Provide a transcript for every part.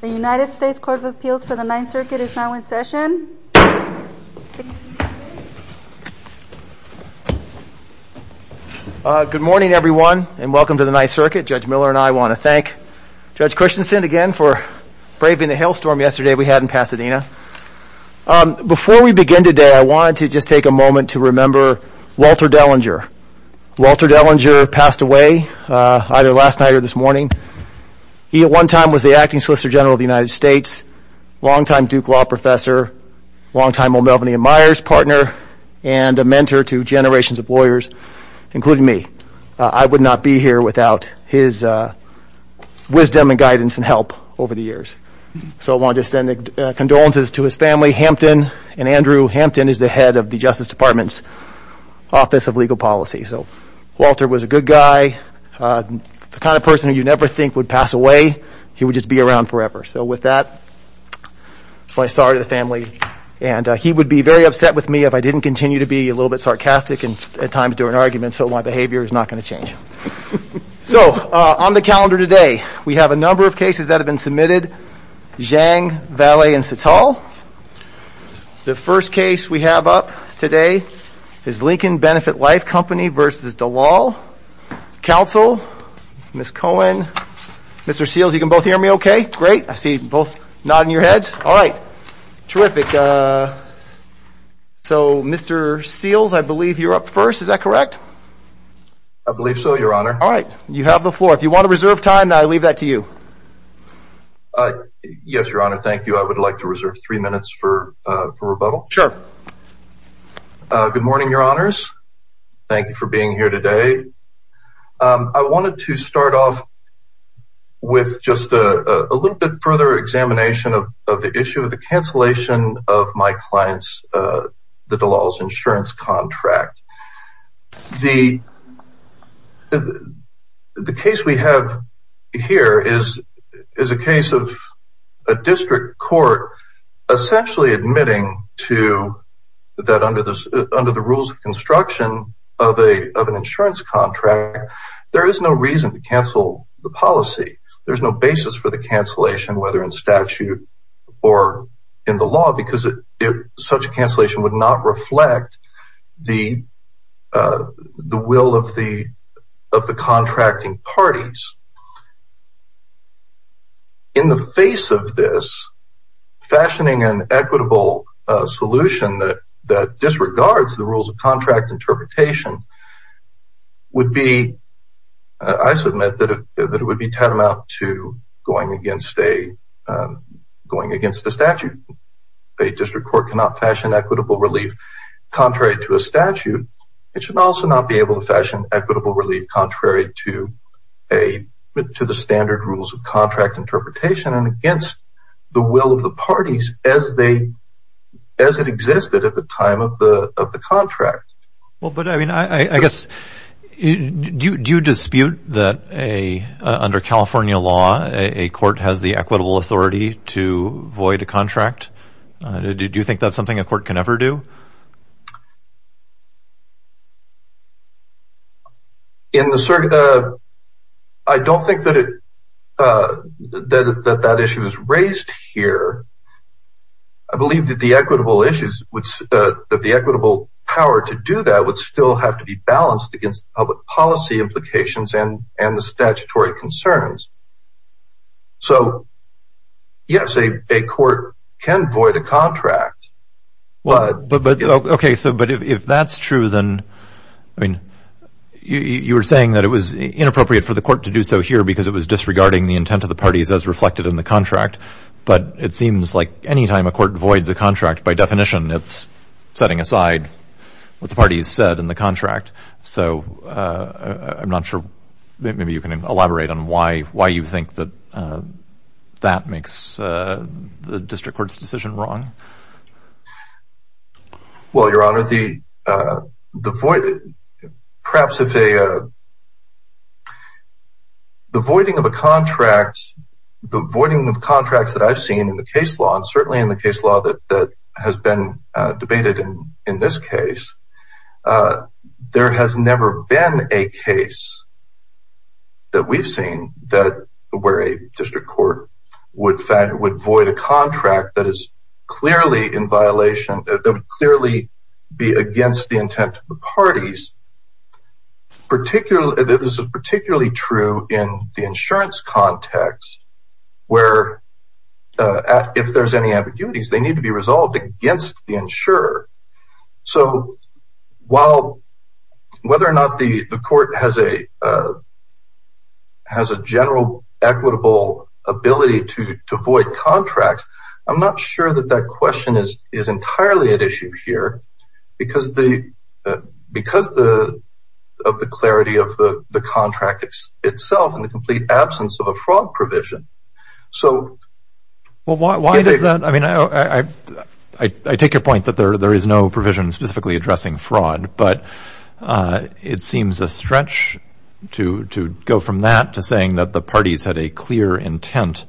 The United States Court of Appeals for the Ninth Circuit is now in session. Good morning everyone and welcome to the Ninth Circuit. Judge Miller and I want to thank Judge Christensen again for braving the hailstorm yesterday we had in Pasadena. Before we begin today, I wanted to just take a moment to remember Walter Dellinger. Walter Dellinger passed away either last night or this morning. He at one time was the acting Solicitor General of the United States, long-time Duke Law professor, long-time O'Melveny & Myers partner, and a mentor to generations of lawyers, including me. I would not be here without his wisdom and guidance and help over the years. So I want to just send condolences to his family. Hampton and Andrew Hampton is the head of the Justice Department's Office of Legal Policy. So Walter was a good guy, the kind of person you never think would pass away. He would just be around forever. So with that, my sorry to the family. And he would be very upset with me if I didn't continue to be a little bit sarcastic and at times do an argument. So my behavior is not going to change. So on the calendar today, we have a number of cases that have been submitted. Zhang, Valle, and Sital. The first case we have up today is Lincoln Benefit Life Company v. DeLal. Counsel, Ms. Cohen, Mr. Seals, you can both hear me okay? Great. I see you both nodding your heads. All right. Terrific. So Mr. Seals, I believe you're up first. Is that correct? I believe so, Your Honor. All right. You have the floor. If you want to reserve time, I leave that to you. Yes, Your Honor. Thank you. I would like to reserve three minutes for rebuttal. Sure. Good morning, Your Honors. Thank you for being here today. I wanted to start off with just a little bit further examination of the issue of the cancellation of my client's DeLal's insurance contract. The case we have here is a case of a district court essentially admitting to that under the rules of construction of an insurance contract, there is no reason to cancel the policy. There's no basis for the cancellation, whether in statute or in the law, because such a cancellation would not reflect the will of the contracting parties. In the face of this, fashioning an equitable solution that disregards the rules of contract interpretation would be, I submit, that it would be tantamount to going against a statute. A district court cannot fashion equitable relief contrary to a statute. It should also not be able to fashion equitable relief contrary to the standard rules of contract interpretation and against the will of the parties as it existed at the time of the contract. Do you dispute that under California law, a court has the equitable authority to void a contract? Do you think that's something a court can ever do? I don't think that that issue is raised here. I believe that the equitable power to do that would still have to be balanced against public policy implications and the statutory concerns. So, yes, a court can void a contract. Okay. So, but if that's true, then, I mean, you were saying that it was inappropriate for the court to do so here because it was disregarding the intent of the parties as reflected in the contract. But it seems like any time a court voids a contract, by definition, it's setting aside what the parties said in the contract. So, I'm not sure, maybe you can elaborate on why you think that that makes the district court's decision wrong. Well, Your Honor, the voiding of a contract, the voiding of contracts that I've seen in the case law, and certainly in the case law that has been debated in this case, there has never been a case that we've seen where a district court would void a contract that is clearly in violation, that would clearly be against the intent of the parties. This is particularly true in the insurance context where, if there's any ambiguities, they need to be resolved against the insurer. So, while, whether or not the court has a general equitable ability to void contracts, I'm not sure that that question is entirely at issue here because of the clarity of the contract itself in the complete absence of a fraud provision. Well, why is that? I mean, I take your point that there is no provision specifically addressing fraud, but it seems a stretch to go from that to saying that the parties had a clear intent.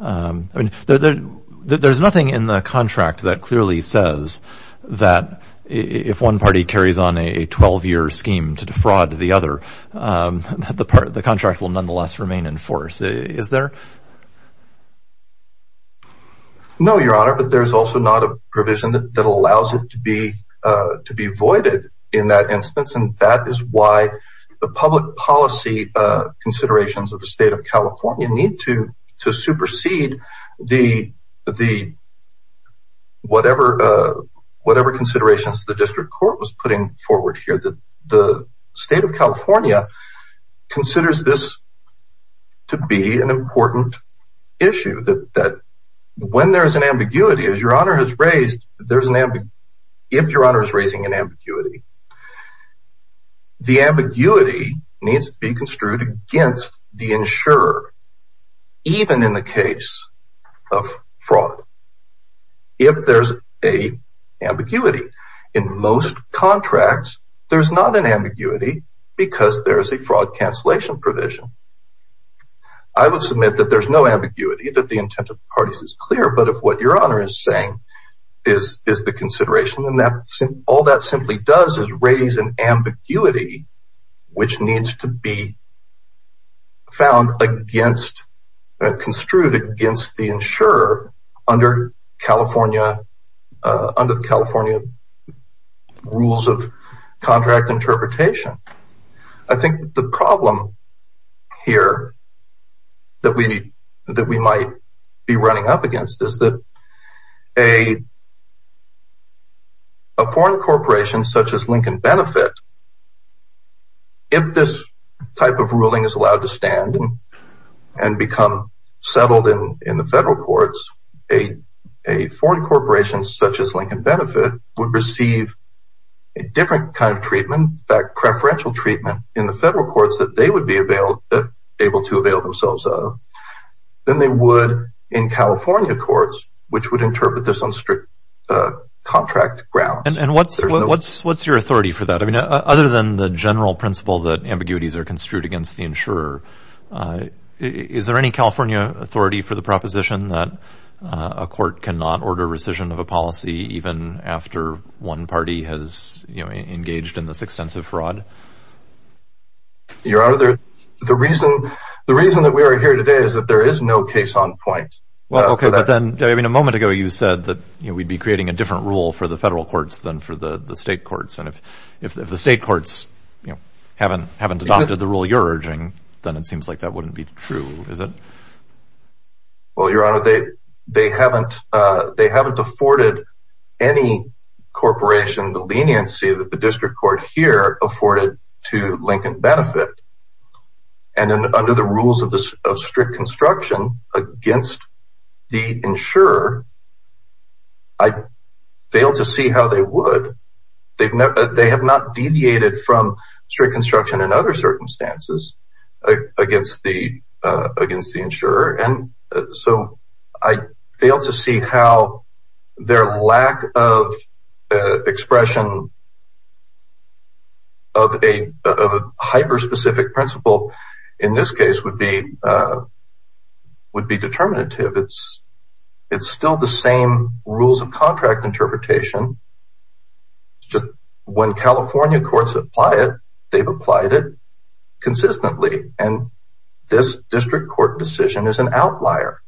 There's nothing in the contract that clearly says that if one party carries on a 12-year scheme to defraud the other, the contract will nonetheless remain in force. Is there? No, Your Honor, but there's also not a provision that allows it to be voided in that instance, and that is why the public policy considerations of the state of California need to supersede whatever considerations the district court was putting forward here. The state of California considers this to be an important issue, that when there's an ambiguity, as Your Honor has raised, if Your Honor is raising an ambiguity, the ambiguity needs to be construed against the insurer, even in the case of fraud. If there's an ambiguity. In most contracts, there's not an ambiguity because there's a fraud cancellation provision. I would submit that there's no ambiguity, that the intent of the parties is clear, but if what Your Honor is saying is the consideration, then all that simply does is raise an ambiguity which needs to be found against, construed against the insurer. Under the California rules of contract interpretation. A foreign corporation such as Lincoln Benefit would receive a different kind of treatment, preferential treatment in the federal courts that they would be able to avail themselves of than they would in California courts, which would interpret this on strict contract grounds. And what's your authority for that? I mean, other than the general principle that ambiguities are construed against the insurer, is there any California authority for the proposition that a court cannot order rescission of a policy even after one party has engaged in this extensive fraud? Your Honor, the reason that we are here today is that there is no case on point. A moment ago, you said that we'd be creating a different rule for the federal courts than for the state courts, and if the state courts haven't adopted the rule you're urging, then it seems like that wouldn't be true, is it? Well, Your Honor, they haven't afforded any corporation the leniency that the district court here afforded to Lincoln Benefit, and under the rules of strict construction against the insurer, I fail to see how they would. They have not deviated from strict construction in other circumstances against the insurer, and so I fail to see how their lack of expression of a hyper-specific principle in this case would be determinative. It's still the same rules of contract interpretation, just when California courts apply it, they've applied it consistently, and this district court decision is an outlier.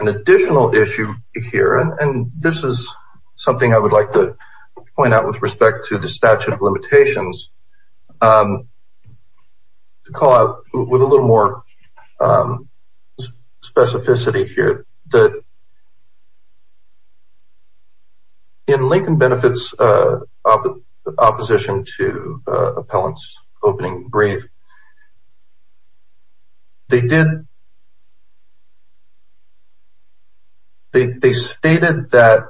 An additional issue here, and this is something I would like to point out with respect to the statute of limitations, to call out with a little more specificity here, is that in Lincoln Benefit's opposition to Appellant's opening brief, they stated that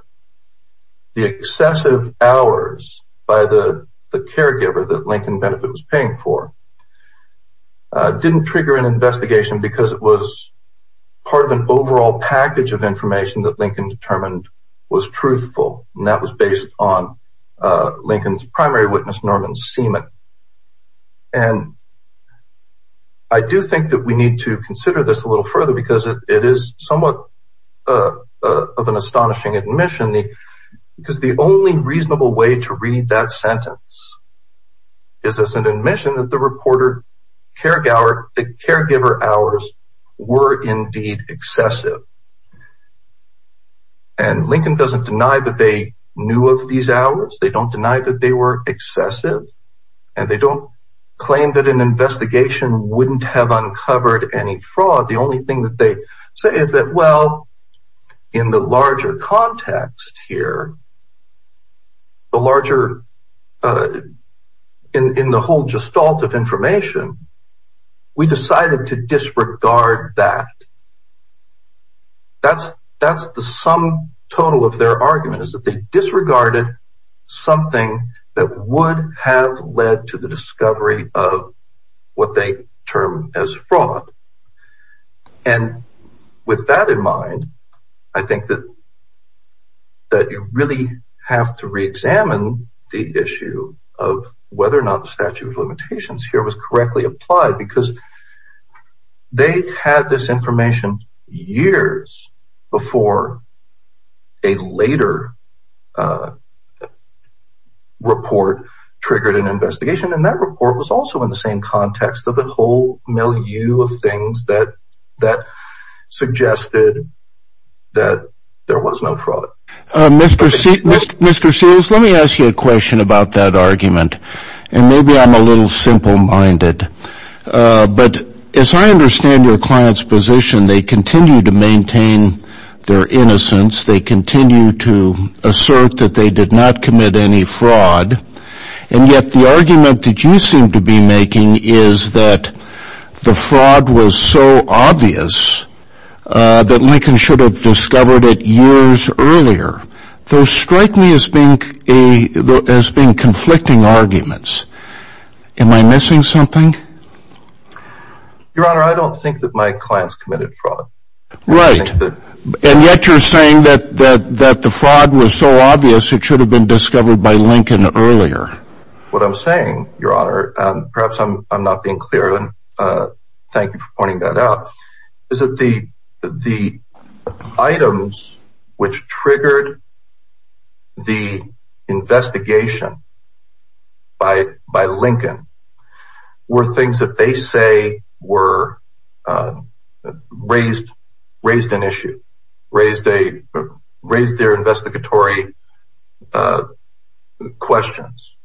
the excessive hours by the caregiver that Lincoln Benefit was paying for didn't trigger an investigation because it was part of an overall package of information that Lincoln determined was truthful, and that was based on Lincoln's primary witness, Norman Seaman. I do think that we need to consider this a little further because it is somewhat of an astonishing admission, because the only reasonable way to read that sentence is as an admission that the caregiver hours were indeed excessive. And Lincoln doesn't deny that they knew of these hours, they don't deny that they were excessive, and they don't claim that an investigation wouldn't have uncovered any fraud. The only thing that they say is that, well, in the larger context here, in the whole gestalt of information, we decided to disregard that. That's the sum total of their argument, is that they disregarded something that would have led to the discovery of what they term as fraud. And with that in mind, I think that you really have to re-examine the issue of whether or not the statute of limitations here was correctly applied, because they had this information years before a later report triggered an investigation. And that report was also in the same context of the whole milieu of things that suggested that there was no fraud. Mr. Seals, let me ask you a question about that argument, and maybe I'm a little simple-minded. But as I understand your client's position, they continue to maintain their innocence, they continue to assert that they did not commit any fraud. And yet the argument that you seem to be making is that the fraud was so obvious that Lincoln should have discovered it years earlier. Those strike me as being conflicting arguments. Am I missing something? Your Honor, I don't think that my client's committed fraud. Right. And yet you're saying that the fraud was so obvious it should have been discovered by Lincoln earlier. What I'm saying, Your Honor, perhaps I'm not being clear, and thank you for pointing that out, is that the items which triggered the investigation by Lincoln were things that they say raised an issue, raised their investigatory questions.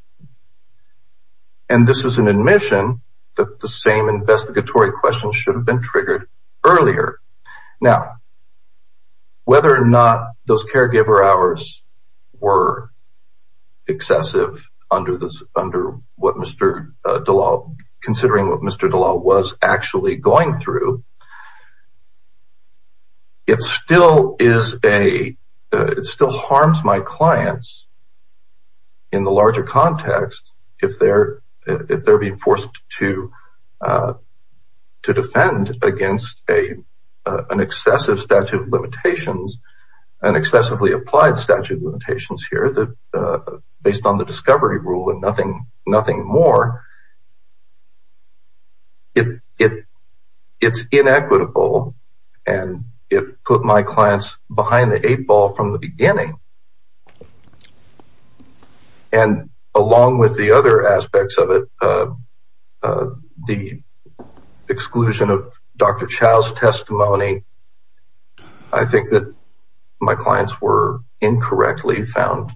And this is an admission that the same investigatory questions should have been triggered earlier. Now, whether or not those caregiver hours were excessive considering what Mr. DeLaw was actually going through, it still harms my clients in the larger context if they're being forced to defend against an excessive statute of limitations, an excessively applied statute of limitations here, based on the discovery rule and nothing more. It's inequitable, and it put my clients behind the eight ball from the beginning. And along with the other aspects of it, the exclusion of Dr. Chow's testimony, I think that my clients were incorrectly found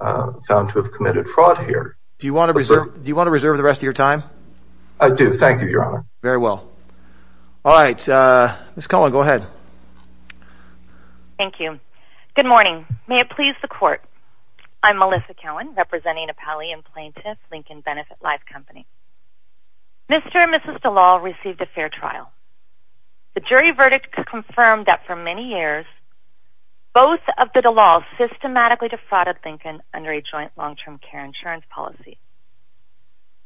to have committed fraud here. Do you want to reserve the rest of your time? I do, thank you, Your Honor. Very well. All right. Ms. Cowan, go ahead. Thank you. Good morning. May it please the court. I'm Melissa Cowan, representing a pallium plaintiff, Lincoln Benefit Life Company. Mr. and Mrs. DeLaw received a fair trial. The jury verdict confirmed that for many years, both of the DeLaws systematically defrauded Lincoln under a joint long-term care insurance policy.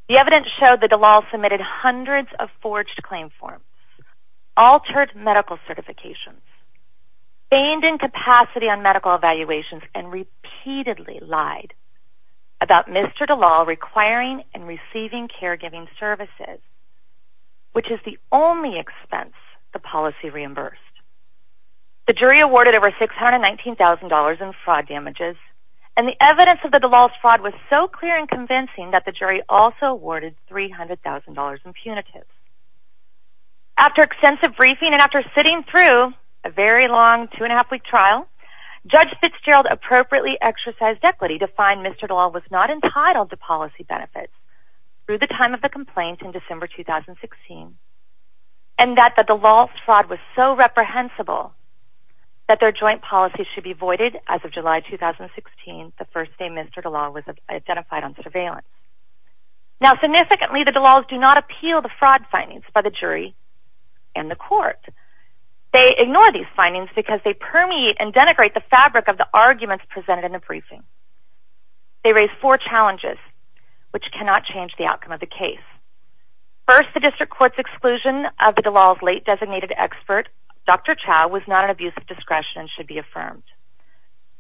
The evidence showed that DeLaw submitted hundreds of forged claim forms, altered medical certifications, feigned incapacity on medical evaluations, and repeatedly lied about Mr. DeLaw requiring and receiving caregiving services, which is the only expense the policy reimbursed. The jury awarded over $619,000 in fraud damages, and the evidence of the DeLaw's fraud was so clear and convincing that the jury also awarded $300,000 in punitives. After extensive briefing and after sitting through a very long two-and-a-half-week trial, Judge Fitzgerald appropriately exercised equity to find Mr. DeLaw was not entitled to policy benefits through the time of the complaint in December 2016, and that the DeLaw's fraud was so reprehensible that their joint policy should be voided as of July 2016, the first day Mr. DeLaw was identified on surveillance. Now, significantly, the DeLaws do not appeal the fraud findings by the jury and the court. They ignore these findings because they permeate and denigrate the fabric of the arguments presented in the briefing. They raise four challenges, which cannot change the outcome of the case. First, the district court's exclusion of the DeLaw's late designated expert, Dr. Chau, was not an abuse of discretion and should be affirmed.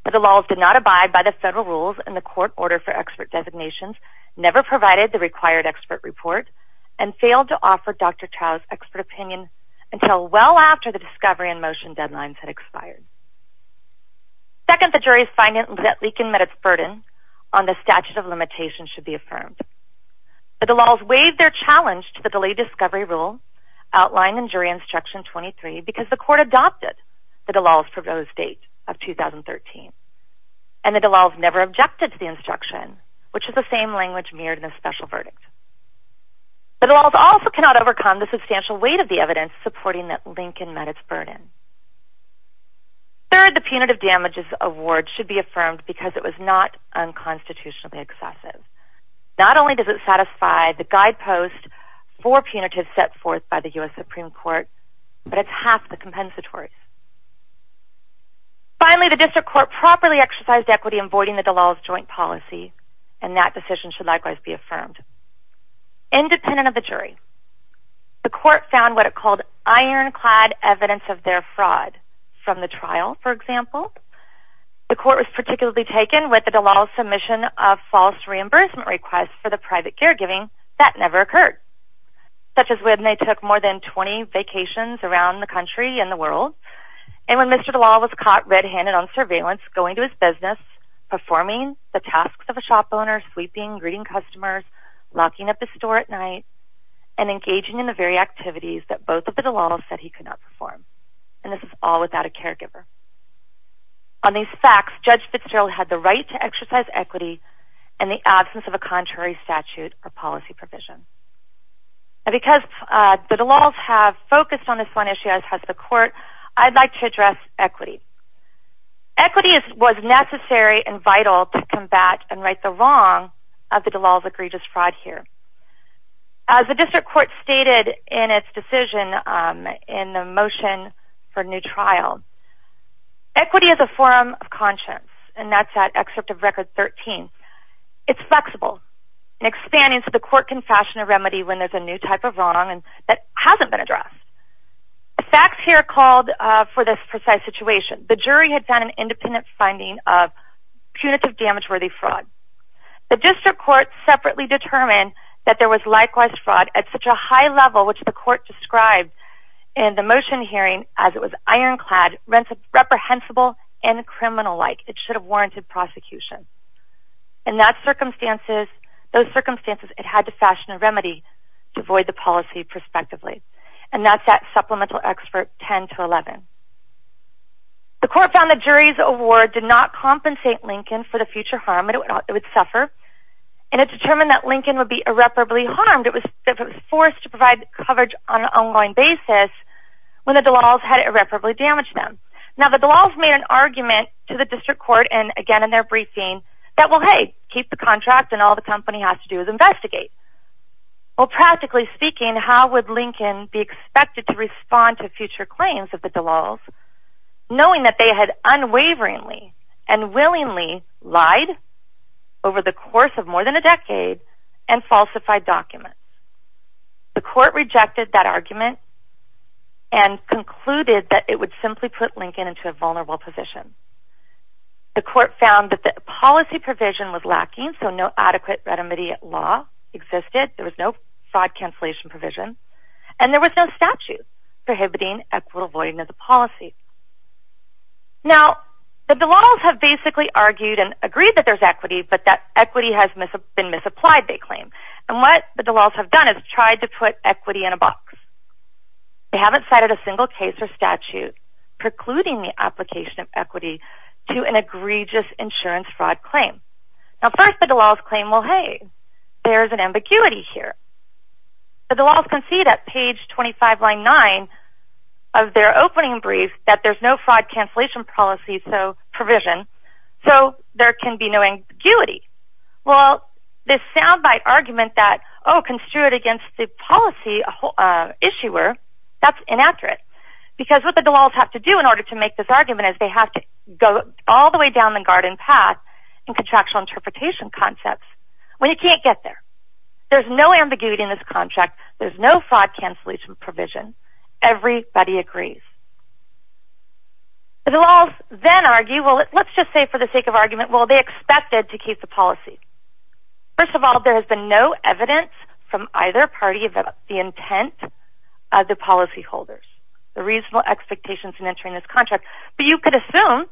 The DeLaws did not abide by the federal rules and the court order for expert designations, never provided the required expert report, and failed to offer Dr. Chau's expert opinion until well after the discovery and motion deadlines had expired. Second, the jury's finding that leaking met its burden on the statute of limitations should be affirmed. The DeLaws waived their challenge to the delayed discovery rule outlined in jury instruction 23 because the court adopted the DeLaw's proposed date of 2013, and the DeLaws never objected to the instruction, which is the same language mirrored in the special verdict. The DeLaws also cannot overcome the substantial weight of the evidence supporting that leaking met its burden. Third, the punitive damages award should be affirmed because it was not unconstitutionally excessive. Not only does it satisfy the guidepost for punitive set forth by the U.S. Supreme Court, but it's half the compensatory. Finally, the district court properly exercised equity in voiding the DeLaw's joint policy, and that decision should likewise be affirmed. Independent of the jury, the court found what it called ironclad evidence of their fraud from the trial, for example. The court was particularly taken with the DeLaw's submission of false reimbursement requests for the private caregiving that never occurred, such as when they took more than 20 vacations around the country and the world, and when Mr. DeLaw was caught red-handed on surveillance going to his business, performing the tasks of a shop owner, sweeping, greeting customers, locking up his store at night, and engaging in the very activities that both of the DeLaws said he could not perform. And this is all without a caregiver. On these facts, Judge Fitzgerald had the right to exercise equity in the absence of a contrary statute or policy provision. And because the DeLaws have focused on this one issue as has the court, I'd like to address equity. Equity was necessary and vital to combat and right the wrong of the DeLaw's egregious fraud here. As the district court stated in its decision in the motion for new trial, equity is a form of conscience. And that's that excerpt of Record 13. It's flexible and expanding so the court can fashion a remedy when there's a new type of wrong that hasn't been addressed. The facts here called for this precise situation. The jury had found an independent finding of punitive damage-worthy fraud. The district court separately determined that there was likewise fraud at such a high level, which the court described in the motion hearing as it was ironclad, reprehensible, and criminal-like. It should have warranted prosecution. In those circumstances, it had to fashion a remedy to avoid the policy prospectively. And that's that Supplemental Excerpt 10-11. The court found the jury's award did not compensate Lincoln for the future harm it would suffer. And it determined that Lincoln would be irreparably harmed if it was forced to provide coverage on an ongoing basis when the DeLaw's had irreparably damaged them. Now, the DeLaw's made an argument to the district court, and again in their briefing, that, well, hey, keep the contract and all the company has to do is investigate. Well, practically speaking, how would Lincoln be expected to respond to future claims of the DeLaw's knowing that they had unwaveringly and willingly lied over the course of more than a decade and falsified documents? The court rejected that argument and concluded that it would simply put Lincoln into a vulnerable position. The court found that the policy provision was lacking, so no adequate remedy at law existed. There was no fraud cancellation provision. And there was no statute prohibiting equitable voiding of the policy. Now, the DeLaw's have basically argued and agreed that there's equity, but that equity has been misapplied, they claim. And what the DeLaw's have done is tried to put equity in a box. They haven't cited a single case or statute precluding the application of equity to an egregious insurance fraud claim. Now, first, the DeLaw's claim, well, hey, there's an ambiguity here. The DeLaw's concede at page 25, line 9 of their opening brief that there's no fraud cancellation provision, so there can be no ambiguity. Well, this soundbite argument that, oh, construed against the policy issuer, that's inaccurate. Because what the DeLaw's have to do in order to make this argument is they have to go all the way down the garden path in contractual interpretation concepts. Well, you can't get there. There's no ambiguity in this contract. There's no fraud cancellation provision. Everybody agrees. The DeLaw's then argue, well, let's just say for the sake of argument, well, they expected to keep the policy. First of all, there has been no evidence from either party about the intent of the policyholders, the reasonable expectations in entering this contract. But you could assume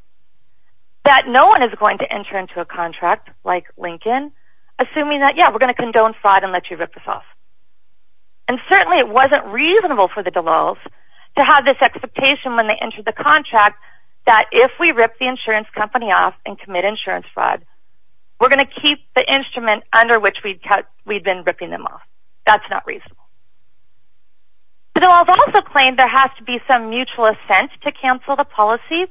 that no one is going to enter into a contract like Lincoln, assuming that, yeah, we're going to condone fraud and let you rip us off. And certainly it wasn't reasonable for the DeLaw's to have this expectation when they entered the contract that if we rip the insurance company off and commit insurance fraud, we're going to keep the instrument under which we've been ripping them off. That's not reasonable. The DeLaw's also claim there has to be some mutual assent to cancel the policy.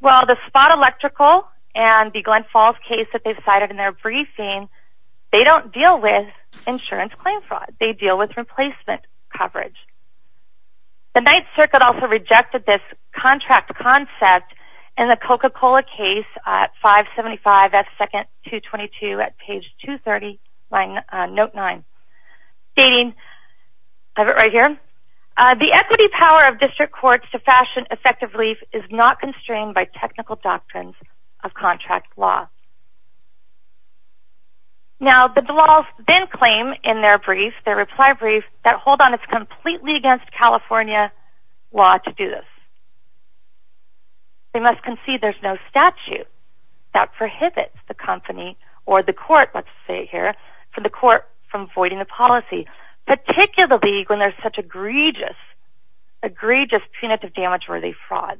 Well, the Spot Electrical and the Glen Falls case that they've cited in their briefing, they don't deal with insurance claim fraud. They deal with replacement coverage. The Ninth Circuit also rejected this contract concept in the Coca-Cola case at 575 at 2nd 222 at page 230, note 9, stating, I have it right here, the equity power of district courts to fashion effective relief is not constrained by technical doctrines of contract law. Now, the DeLaw's then claim in their brief, their reply brief, that hold on, it's completely against California law to do this. They must concede there's no statute that prohibits the company or the court, let's say here, for the court from voiding the policy, particularly when there's such egregious, egregious punitive damage-worthy fraud.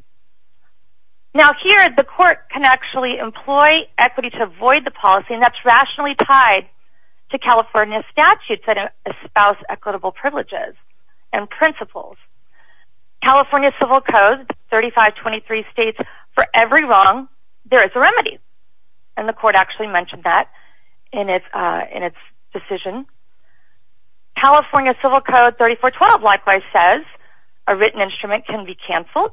Now, here the court can actually employ equity to avoid the policy, and that's rationally tied to California statutes that espouse equitable privileges and principles. California Civil Code 3523 states, for every wrong, there is a remedy. And the court actually mentioned that in its decision. California Civil Code 3412 likewise says, a written instrument can be canceled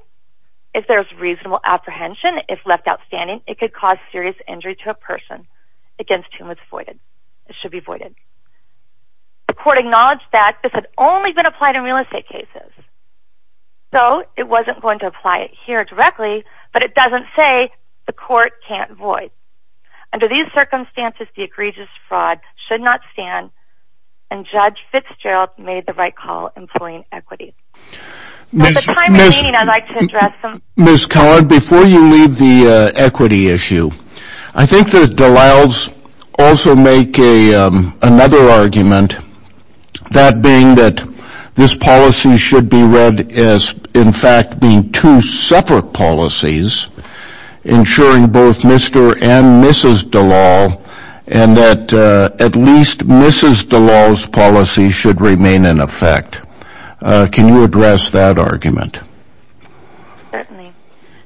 if there's reasonable apprehension. If left outstanding, it could cause serious injury to a person against whom it's voided. It should be voided. The court acknowledged that this had only been applied in real estate cases. So, it wasn't going to apply it here directly, but it doesn't say the court can't void. Under these circumstances, the egregious fraud should not stand, and Judge Fitzgerald made the right call employing equity. At the time of the meeting, I'd like to address some... another argument, that being that this policy should be read as, in fact, being two separate policies, ensuring both Mr. and Mrs. Dallal, and that at least Mrs. Dallal's policy should remain in effect. Can you address that argument? Certainly.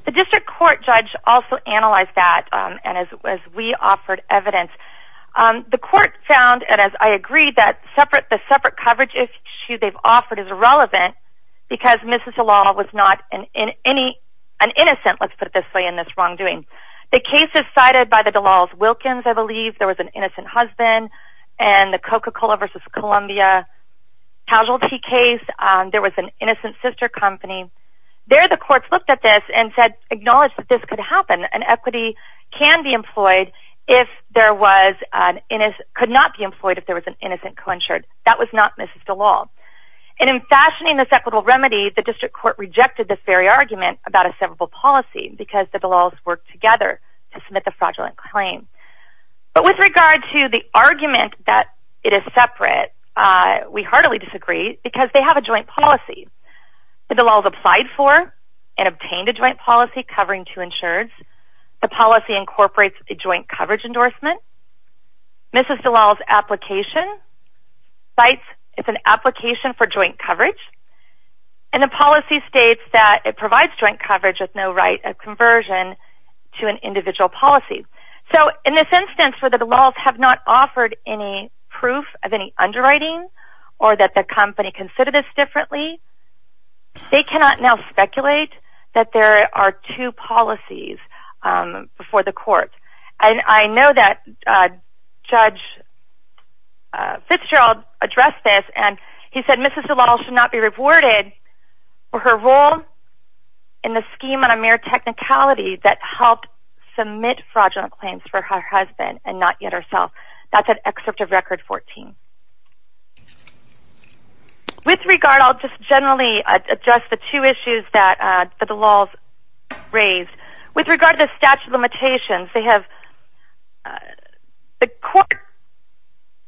The district court judge also analyzed that, and as we offered evidence. The court found, and as I agreed, that the separate coverage issue they've offered is irrelevant, because Mrs. Dallal was not an innocent, let's put it this way, in this wrongdoing. The cases cited by the Dallal's Wilkins, I believe, there was an innocent husband, and the Coca-Cola versus Columbia casualty case, there was an innocent sister company. There, the courts looked at this and said, acknowledge that this could happen, and equity can be employed if there was an innocent... could not be employed if there was an innocent co-insured. That was not Mrs. Dallal. And in fashioning this equitable remedy, the district court rejected this very argument about a severable policy, because the Dallals worked together to submit the fraudulent claim. But with regard to the argument that it is separate, we heartily disagree, because they have a joint policy. The Dallals applied for and obtained a joint policy covering two insureds. The policy incorporates a joint coverage endorsement. Mrs. Dallal's application cites it's an application for joint coverage, and the policy states that it provides joint coverage with no right of conversion to an individual policy. So, in this instance, where the Dallals have not offered any proof of any underwriting, or that the company considered this differently, they cannot now speculate that there are two policies before the court. And I know that Judge Fitzgerald addressed this, and he said Mrs. Dallal should not be rewarded for her role in the scheme on a mere technicality that helped submit fraudulent claims for her husband, and not yet herself. That's an excerpt of Record 14. With regard, I'll just generally address the two issues that the Dallals raised. With regard to the statute of limitations, the court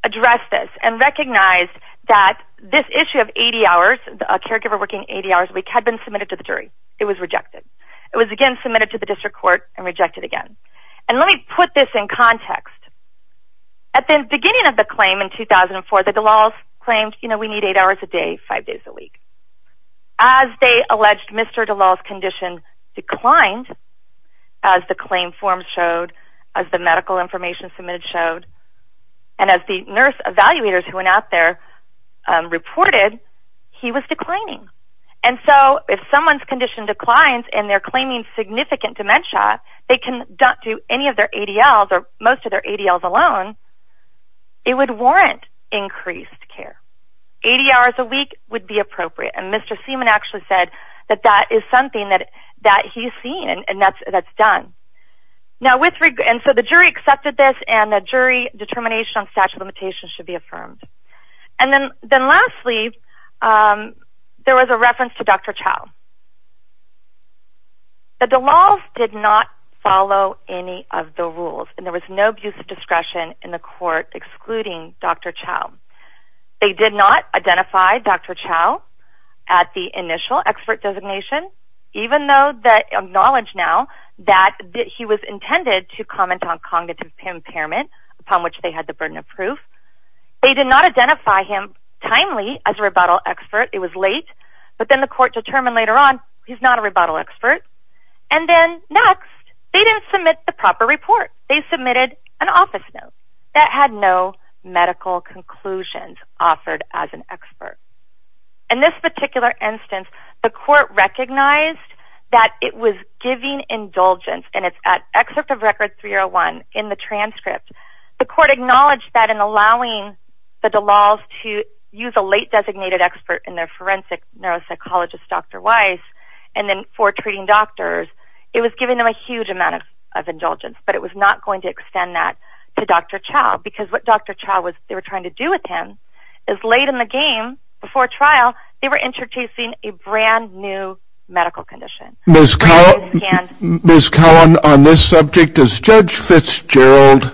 addressed this and recognized that this issue of 80 hours, the caregiver working 80 hours a week, had been submitted to the jury. It was rejected. It was again submitted to the district court and rejected again. And let me put this in context. At the beginning of the claim in 2004, the Dallals claimed, you know, we need 8 hours a day, 5 days a week. As they alleged Mr. Dallal's condition declined, as the claim forms showed, as the medical information submitted showed, and as the nurse evaluators who went out there reported, he was declining. And so, if someone's condition declines and they're claiming significant dementia, they can not do any of their ADLs or most of their ADLs alone, it would warrant increased care. 80 hours a week would be appropriate. And Mr. Seaman actually said that that is something that he's seen and that's done. And so the jury accepted this, and the jury determination on statute of limitations should be affirmed. And then lastly, there was a reference to Dr. Chow. The Dallals did not follow any of the rules, and there was no abuse of discretion in the court excluding Dr. Chow. They did not identify Dr. Chow at the initial expert designation, even though they acknowledge now that he was intended to comment on cognitive impairment, upon which they had the burden of proof. They did not identify him timely as a rebuttal expert. It was late. But then the court determined later on, he's not a rebuttal expert. And then next, they didn't submit the proper report. They submitted an office note that had no medical conclusions offered as an expert. In this particular instance, the court recognized that it was giving indulgence, and it's at excerpt of record 301 in the transcript. The court acknowledged that in allowing the Dallals to use a late designated expert in their forensic neuropsychologist, Dr. Weiss, and then for treating doctors, it was giving them a huge amount of indulgence. But it was not going to extend that to Dr. Chow, because what Dr. Chow was trying to do with him is late in the game, before trial, they were introducing a brand new medical condition. Ms. Cowan, on this subject, does Judge Fitzgerald,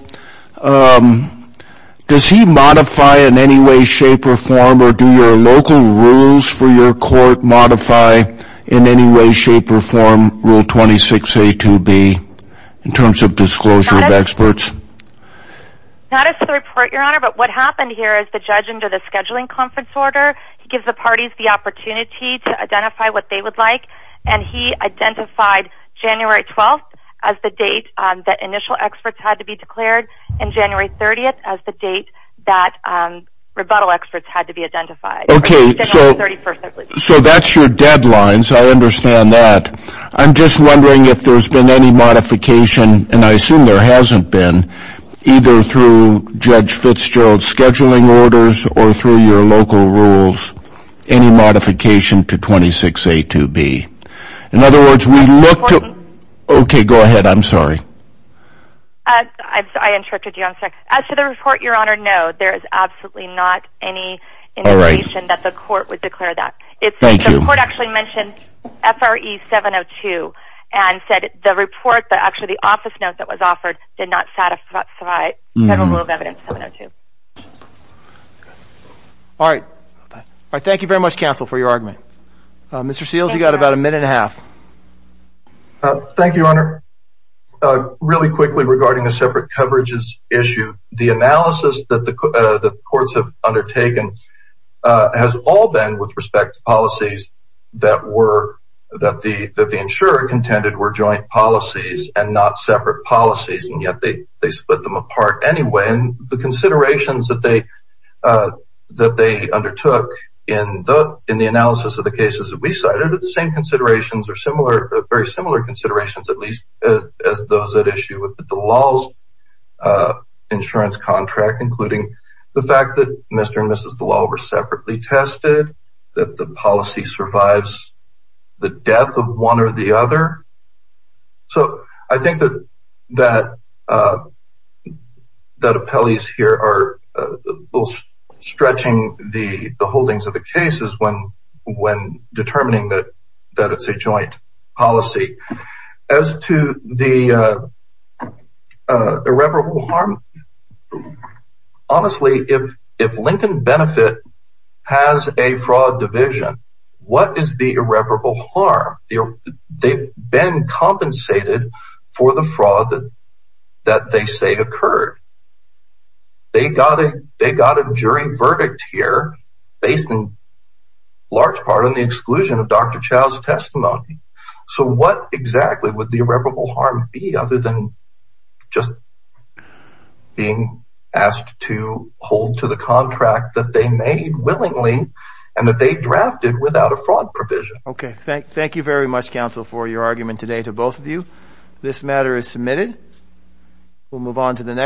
does he modify in any way, shape, or form, or do your local rules for your court modify in any way, shape, or form, Rule 26A2B, in terms of disclosure of experts? Not as to the report, Your Honor, but what happened here is the judge, under the scheduling conference order, gives the parties the opportunity to identify what they would like, and he identified January 12th as the date that initial experts had to be declared, and January 30th as the date that rebuttal experts had to be identified. Okay, so that's your deadline, so I understand that. I'm just wondering if there's been any modification, and I assume there hasn't been, either through Judge Fitzgerald's scheduling orders or through your local rules, any modification to 26A2B. In other words, we look to... Okay, go ahead, I'm sorry. I interrupted you, I'm sorry. As to the report, Your Honor, no. There is absolutely not any indication that the court would declare that. Thank you. The court actually mentioned FRE 702, and said the report, actually the office note that was offered, did not satisfy Federal Rule of Evidence 702. All right. Thank you very much, counsel, for your argument. Mr. Seals, you've got about a minute and a half. Thank you, Your Honor. Really quickly regarding the separate coverages issue, the analysis that the courts have undertaken has all been with respect to policies that the insurer contended were joint policies and not separate policies, and yet they split them apart anyway. And the considerations that they undertook in the analysis of the cases that we cited are the same considerations or very similar considerations, at least as those at issue with DeLaw's insurance contract, including the fact that Mr. and Mrs. DeLaw were separately tested, that the policy survives the death of one or the other. So I think that appellees here are stretching the holdings of the cases when determining that it's a joint policy. As to the irreparable harm, honestly, if Lincoln Benefit has a fraud division, what is the irreparable harm? They've been compensated for the fraud that they say occurred. They got a jury verdict here based in large part on the exclusion of Dr. Chow's testimony. So what exactly would the irreparable harm be other than just being asked to hold to the contract that they made willingly and that they drafted without a fraud provision? Okay. Thank you very much, counsel, for your argument today to both of you. This matter is submitted. We'll move on to the next.